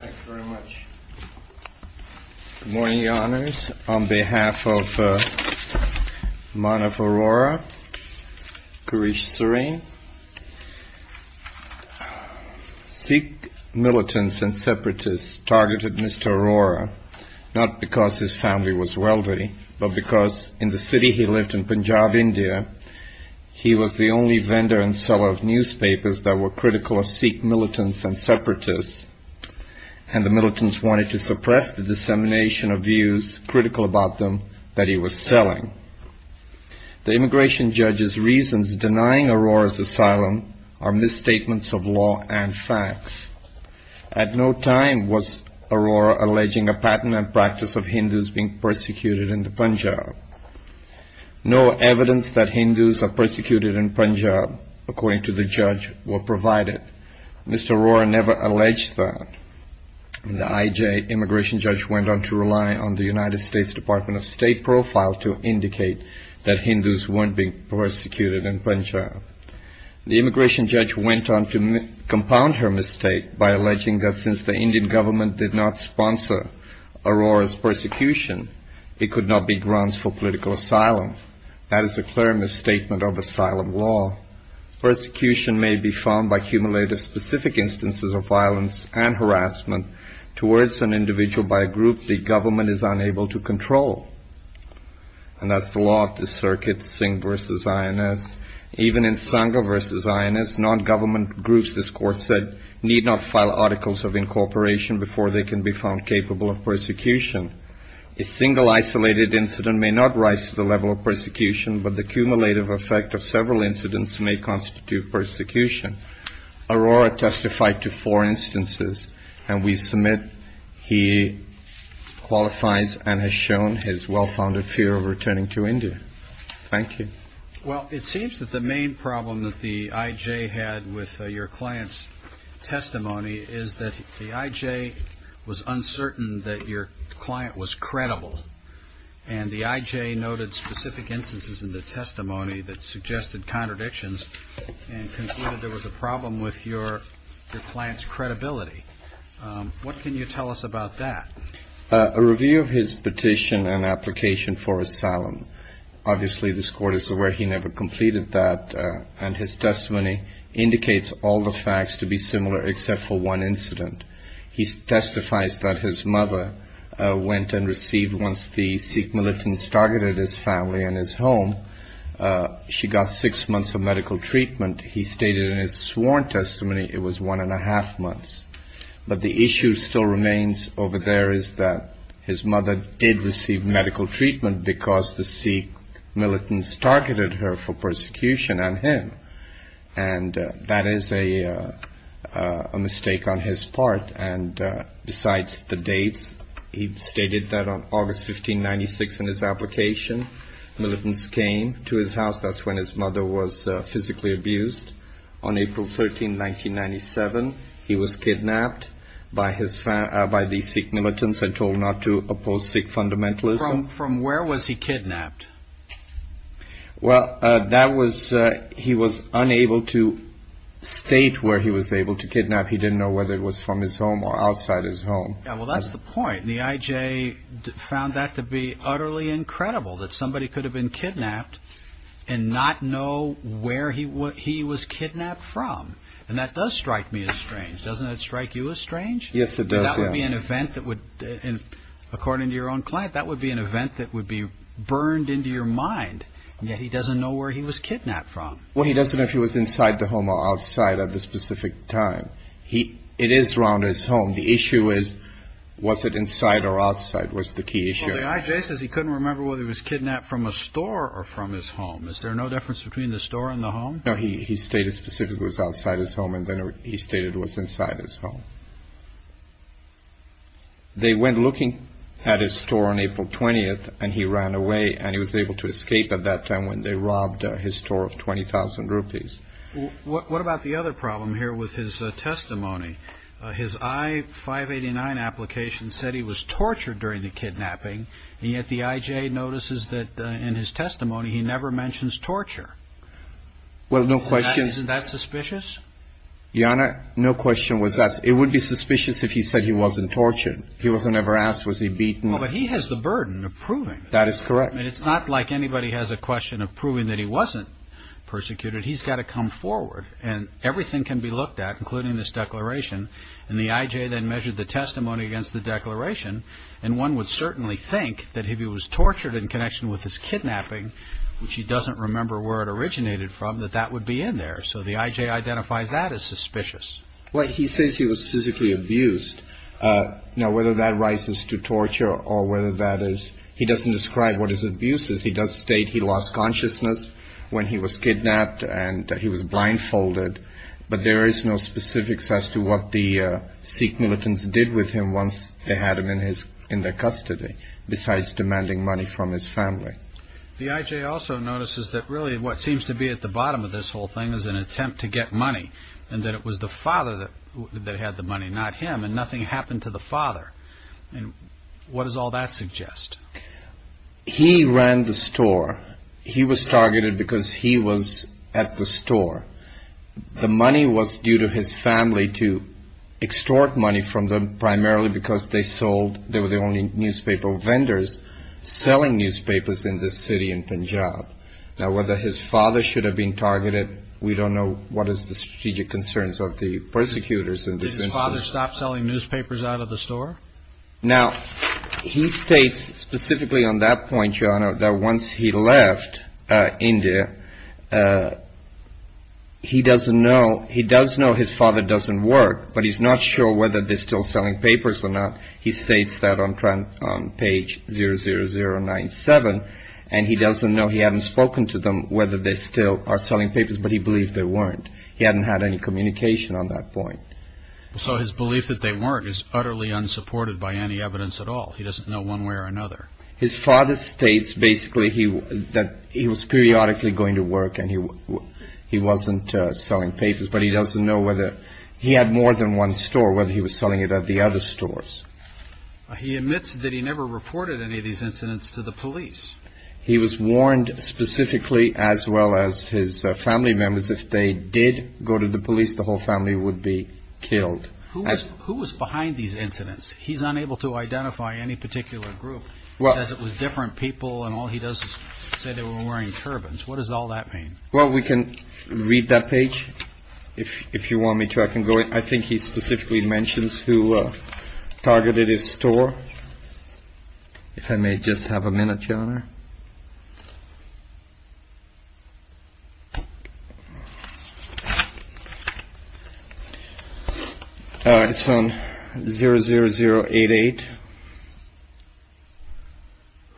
Thank you very much. Good morning, Your Honours. On behalf of Manav Arora, Kirish Sareen, Sikh militants and separatists targeted Mr. Arora, not because his family was wealthy, but because in the city he lived in, Punjab, India, he was the only vendor and seller of newspapers that were critical of Sikh militants and separatists, and the militants wanted to suppress the dissemination of views, critical about them, that he was selling. The immigration judge's reasons denying Arora's asylum are misstatements of law and facts. At no time was Arora alleging a patent and practice of Hindus being persecuted in Punjab. No evidence that Hindus are persecuted in Punjab, according to the judge, were provided. Mr. Arora never alleged that. The IJ immigration judge went on to rely on the United States Department of State profile to indicate that Hindus weren't being persecuted in Punjab. The immigration judge went on to compound her mistake by alleging that since the Indian government did not sponsor Arora's persecution, it could not be grounds for political asylum. That is a clear misstatement of asylum law. Persecution may be found by cumulative specific instances of violence and harassment towards an individual by a group the government is unable to control. And that's the law of the circuit, Singh v. INS. Even in Sangha v. INS, non-government groups, this court said, need not file articles of incorporation before they can be found capable of persecution. A single isolated incident may not rise to the level of persecution, but the cumulative effect of several incidents may constitute persecution. Arora testified to four instances, and we submit he qualifies and has shown his well-founded fear of returning to India. Thank you. Well, it seems that the main problem that the IJ had with your client's testimony is that the IJ was uncertain that your client was credible, and the IJ noted specific instances in the testimony that suggested contradictions and concluded there was a problem with your client's credibility. What can you tell us about that? A review of his petition and application for asylum. Obviously, this court is aware he never completed that, and his testimony indicates all the facts to be similar except for one incident. He testifies that his mother went and received, once the Sikh militants targeted his family and his home, she got six months of medical treatment. He stated in his sworn testimony it was one and a half months. But the issue still remains over there is that his mother did receive medical treatment because the Sikh militants targeted her for persecution and him. And that is a mistake on his part. And besides the dates, he stated that on August 15, 1996, in his application, militants came to his house. That's when his mother was physically abused. On April 13, 1997, he was kidnapped by the Sikh militants and told not to oppose Sikh fundamentalism. From where was he kidnapped? Well, he was unable to state where he was able to kidnap. He didn't know whether it was from his home or outside his home. Well, that's the point. The IJ found that to be utterly incredible that somebody could have been kidnapped and not know where he was kidnapped from. And that does strike me as strange. Doesn't that strike you as strange? Yes, it does. That would be an event that would, according to your own client, that would be an event that would be burned into your mind. And yet he doesn't know where he was kidnapped from. Well, he doesn't know if he was inside the home or outside at the specific time. It is around his home. The issue is, was it inside or outside was the key issue. Well, the IJ says he couldn't remember whether he was kidnapped from a store or from his home. Is there no difference between the store and the home? No, he stated specifically it was outside his home and then he stated it was inside his home. They went looking at his store on April 20th and he ran away and he was able to escape at that time when they robbed his store of 20,000 rupees. What about the other problem here with his testimony? His I-589 application said he was tortured during the kidnapping and yet the IJ notices that in his testimony he never mentions torture. Well, isn't that suspicious? Your Honor, no question was asked. It would be suspicious if he said he wasn't tortured. He wasn't ever asked, was he beaten? But he has the burden of proving that. That is correct. It's not like anybody has a question of proving that he wasn't persecuted. He's got to come forward and everything can be looked at, including this declaration. And the IJ then measured the testimony against the declaration and one would certainly think that if he was tortured in connection with his kidnapping, which he would be in there. So the IJ identifies that as suspicious. Well, he says he was physically abused. Now, whether that rises to torture or whether that is, he doesn't describe what his abuse is. He does state he lost consciousness when he was kidnapped and he was blindfolded. But there is no specifics as to what the Sikh militants did with him once they had him in their custody, besides demanding money from his family. The IJ also notices that really what seems to be at the bottom of this whole thing is an attempt to get money and that it was the father that had the money, not him. And nothing happened to the father. And what does all that suggest? He ran the store. He was targeted because he was at the store. The money was due to his family to extort money from them, primarily because they sold, they were the only newspaper vendors selling newspapers in this city in Punjab. Now, whether his father should have been targeted, we don't know what is the strategic concerns of the persecutors. Did his father stop selling newspapers out of the store? Now, he states specifically on that point, that once he left India, he doesn't know. He does know his father doesn't work, but he's not sure whether they're still selling papers or not. He states that on page 00097, and he doesn't know. He hadn't spoken to them whether they still are selling papers, but he believed they weren't. He hadn't had any communication on that point. So his belief that they weren't is utterly unsupported by any evidence at all. He doesn't know one way or another. His father states basically that he was periodically going to work and he wasn't selling papers, but he doesn't know whether he had more than one store, whether he was selling it at the other stores. He admits that he never reported any of these incidents to the police. He was warned specifically, as well as his family members, if they did go to the police, the whole family would be killed. Who was behind these incidents? He's unable to identify any particular group. He says it was different people and all he does is say they were wearing turbans. What does all that mean? Well, we can read that page if you want me to. I can go. I think he specifically mentions who targeted his store. If I may just have a minute, Your Honor. It's on 00088.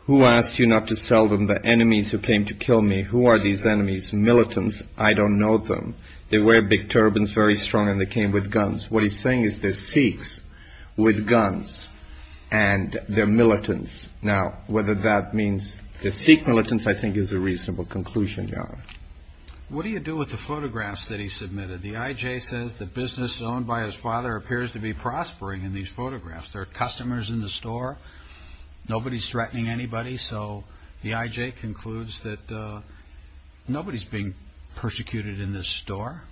Who asked you not to sell them? The enemies who came to kill me. Who are these enemies? Militants. I don't know them. They wear big turbans, very strong, and they came with guns. What he's saying is they're Sikhs with guns and they're militants. Now, whether that means they're Sikh militants, I think is a reasonable conclusion, Your Honor. What do you do with the photographs that he submitted? The IJ says the business owned by his father appears to be prospering in these photographs. There are customers in the store. Nobody's threatening anybody, so the IJ concludes that nobody's being persecuted in this store.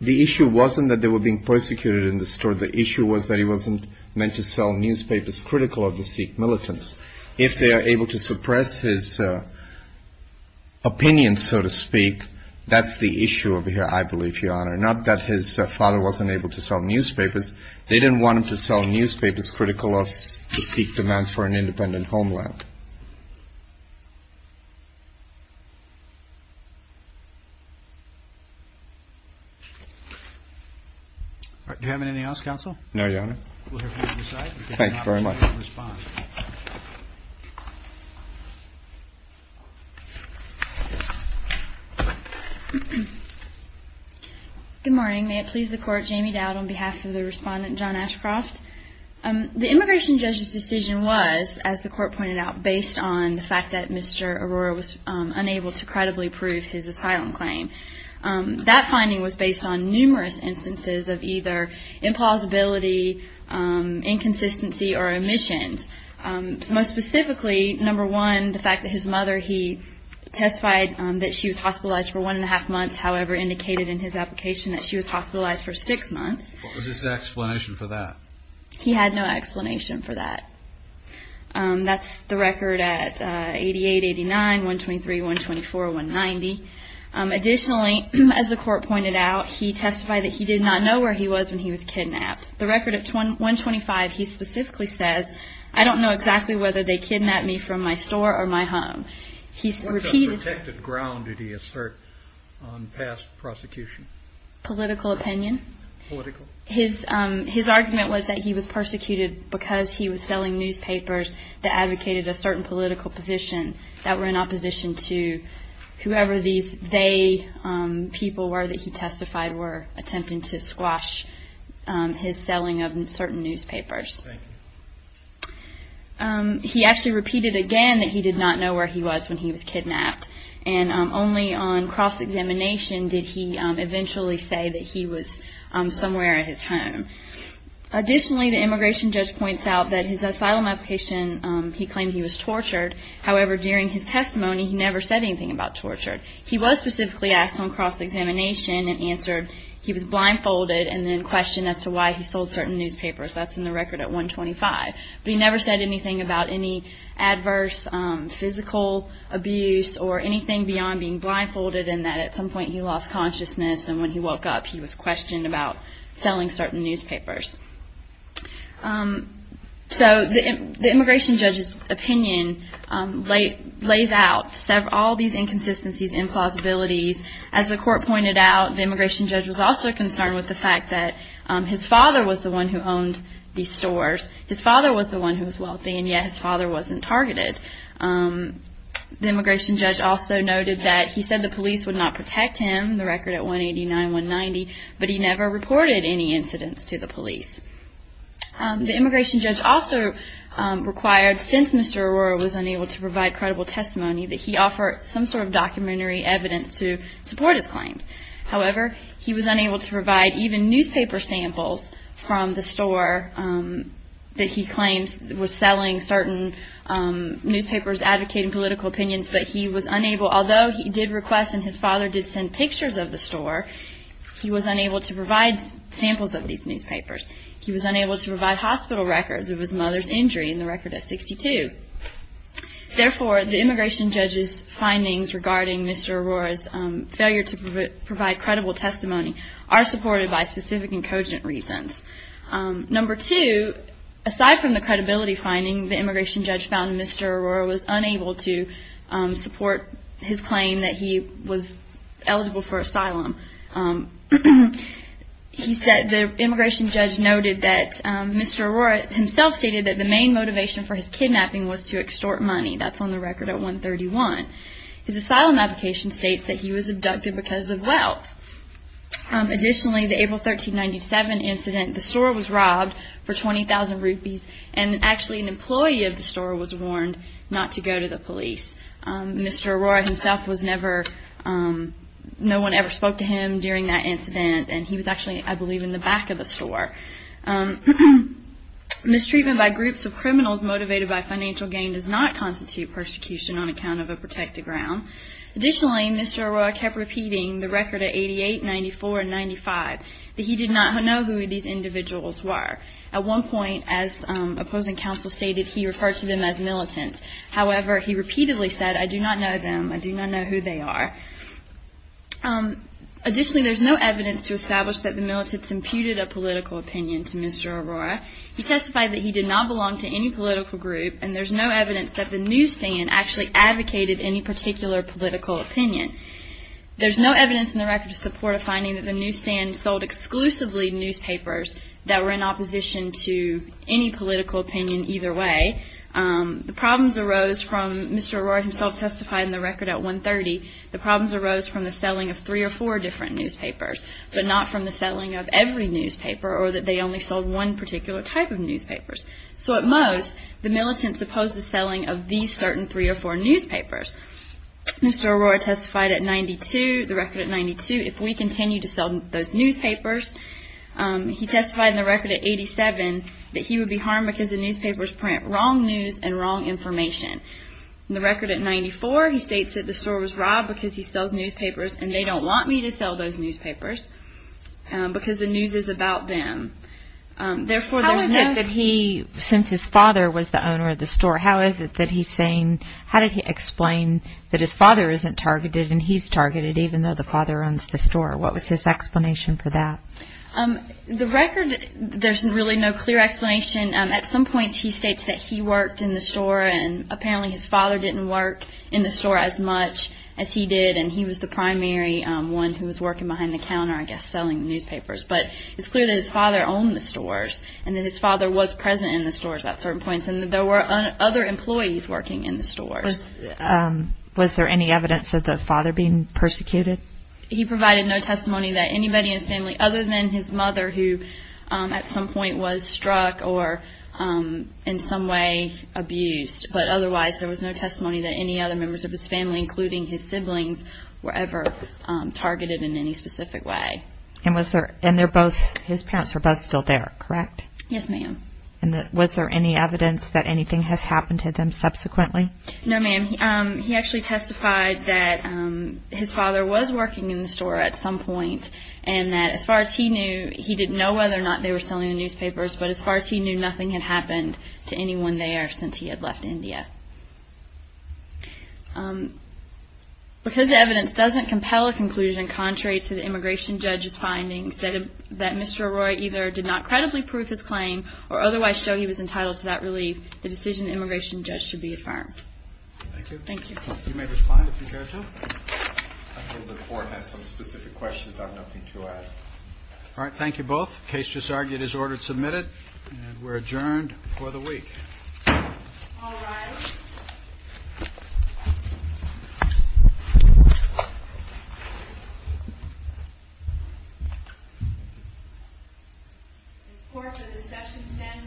The issue wasn't that they were being persecuted in the store. The issue was that he wasn't meant to sell newspapers critical of the Sikh militants. If they are able to suppress his opinion, so to speak, that's the issue over here, I believe, Your Honor. Not that his father wasn't able to sell newspapers. They didn't want to sell newspapers critical of the Sikh demands for an independent homeland. Do you have anything else, Counsel? No, Your Honor. We'll hear from you on this side. Thank you very much. Good morning. May it please the Court. Jamie Dowd on behalf of the Respondent John Ashcroft. The immigration judge's decision was, as the Court pointed out, based on the fact that Mr. Arora was unable to credibly prove his asylum claim. That finding was based on numerous instances of either implausibility, inconsistency, or omissions. Most specifically, number one, the fact that his mother, he testified that she was hospitalized for one and a half months, however indicated in his application that she was hospitalized for six months. What was his explanation for that? He had no explanation for that. That's the record at 88, 89, 123, 124, 190. Additionally, as the Court pointed out, he testified that he did not know where he was when he was kidnapped. The record at 125, he specifically says, I don't know exactly whether they kidnapped me from my store or my home. He's repeated that. What protected ground did he assert on past prosecution? Political opinion. His argument was that he was persecuted because he was selling newspapers that advocated a certain political position that were in opposition to whoever these they people were that he testified were attempting to squash his selling of certain newspapers. He actually repeated again that he did not know where he was when he was kidnapped. Only on cross-examination did he eventually say that he was somewhere at his home. Additionally, the immigration judge points out that his asylum application, he claimed he was tortured. However, during his testimony, he never said anything about torture. He was specifically asked on cross-examination and answered he was blindfolded and then questioned as to why he sold certain newspapers. That's in the record at 125. But he never said anything about any adverse physical abuse or anything beyond being blindfolded and that at some point he lost consciousness and when he woke up he was questioned about selling certain newspapers. So the immigration judge's opinion lays out all these inconsistencies, implausibilities. As the court pointed out, the immigration judge was also concerned with the fact that his father was the one who owned these stores. His father was the one who was wealthy and yet his father wasn't targeted. The immigration judge also noted that he said the police would not protect him, the record at 189-190, but he never reported any incidents to the police. The immigration judge also required, since Mr. Arora was unable to provide credible testimony, that he offer some sort of documentary evidence to support his claims. However, he was unable to provide even newspaper samples from the store that he claimed was selling certain newspapers advocating political opinions, but he was unable, although he did request and his father did send pictures of the store, he was unable to provide samples of these newspapers. He was unable to provide hospital records of his mother's injury in the record at 62. Therefore, the immigration judge's failure to provide credible testimony are supported by specific and cogent reasons. Number two, aside from the credibility finding, the immigration judge found Mr. Arora was unable to support his claim that he was eligible for asylum. The immigration judge noted that Mr. Arora himself stated that the main motivation for his kidnapping was to extort money. That's on the record at 131. His asylum application states that he was abducted because of wealth. Additionally, the April 1397 incident, the store was robbed for 20,000 rupees and actually an employee of the store was warned not to go to the police. Mr. Arora himself was never, no one ever spoke to him during that incident and he was actually, I believe, in the back of the store. Mistreatment by groups of criminals motivated by financial gain does not constitute persecution on account of a protected ground. Additionally, Mr. Arora kept repeating the record at 88, 94, and 95 that he did not know who these individuals were. At one point, as opposing counsel stated, he referred to them as militants. However, he repeatedly said, I do not know them. I do not know who they are. Additionally, there's no evidence to establish that the militants imputed a political opinion to Mr. Arora. He testified that he did not belong to any political group and there's no evidence that the newsstand actually advocated any particular political opinion. There's no evidence in the record to support a finding that the newsstand sold exclusively newspapers that were in opposition to any political opinion either way. The problems arose from, Mr. Arora himself testified in the record at 130, the problems arose from the selling of three or four different newspapers, but not from the selling of every newspaper or that they only sold one particular type of newspapers. So at most, the militants opposed the selling of these certain three or four newspapers. Mr. Arora testified at 92, the record at 92, if we continue to sell those newspapers, he testified in the record at 87, that he would be harmed because the newspapers print wrong news and wrong information. In the record at 94, he states that the store was robbed because he sells newspapers and they don't want me to sell those newspapers because the news is about them. Therefore, there's no... How is it that he, since his father was the owner of the store, how is it that he's saying, how did he explain that his father isn't targeted and he's targeted even though the father owns the store? What was his explanation for that? The record, there's really no clear explanation. At some points, he states that he worked in the store and apparently his father didn't work in the store as much as he did and he was the primary one who was working behind the counter, I guess, selling newspapers. But it's clear that his father owned the stores and that his father was present in the stores at certain points and that there were other employees working in the stores. Was there any evidence of the father being persecuted? He provided no testimony that anybody in his family, other than his mother, who at some point was struck or in some way abused. But otherwise, there was no testimony that any other members of his family, including his siblings, were ever targeted in any specific way. And his parents were both still there, correct? Yes, ma'am. Was there any evidence that anything has happened to them subsequently? No, ma'am. He actually testified that his father was working in the store at some point and that as far as he knew, he didn't know whether or not they were selling the newspapers, but as far as he knew, nothing had happened to anyone there since he had left India. Because the evidence doesn't compel a conclusion contrary to the immigration judge's findings that Mr. Arroyo either did not credibly prove his claim or otherwise show he was entitled to that relief, the decision of the immigration judge should be affirmed. Thank you. Thank you. You may respond if you care to. The court has some specific questions. I have nothing to add. All right. Thank you both. The case just argued is ordered submitted and we're adjourned for the week. All rise. This court for this session stands adjourned.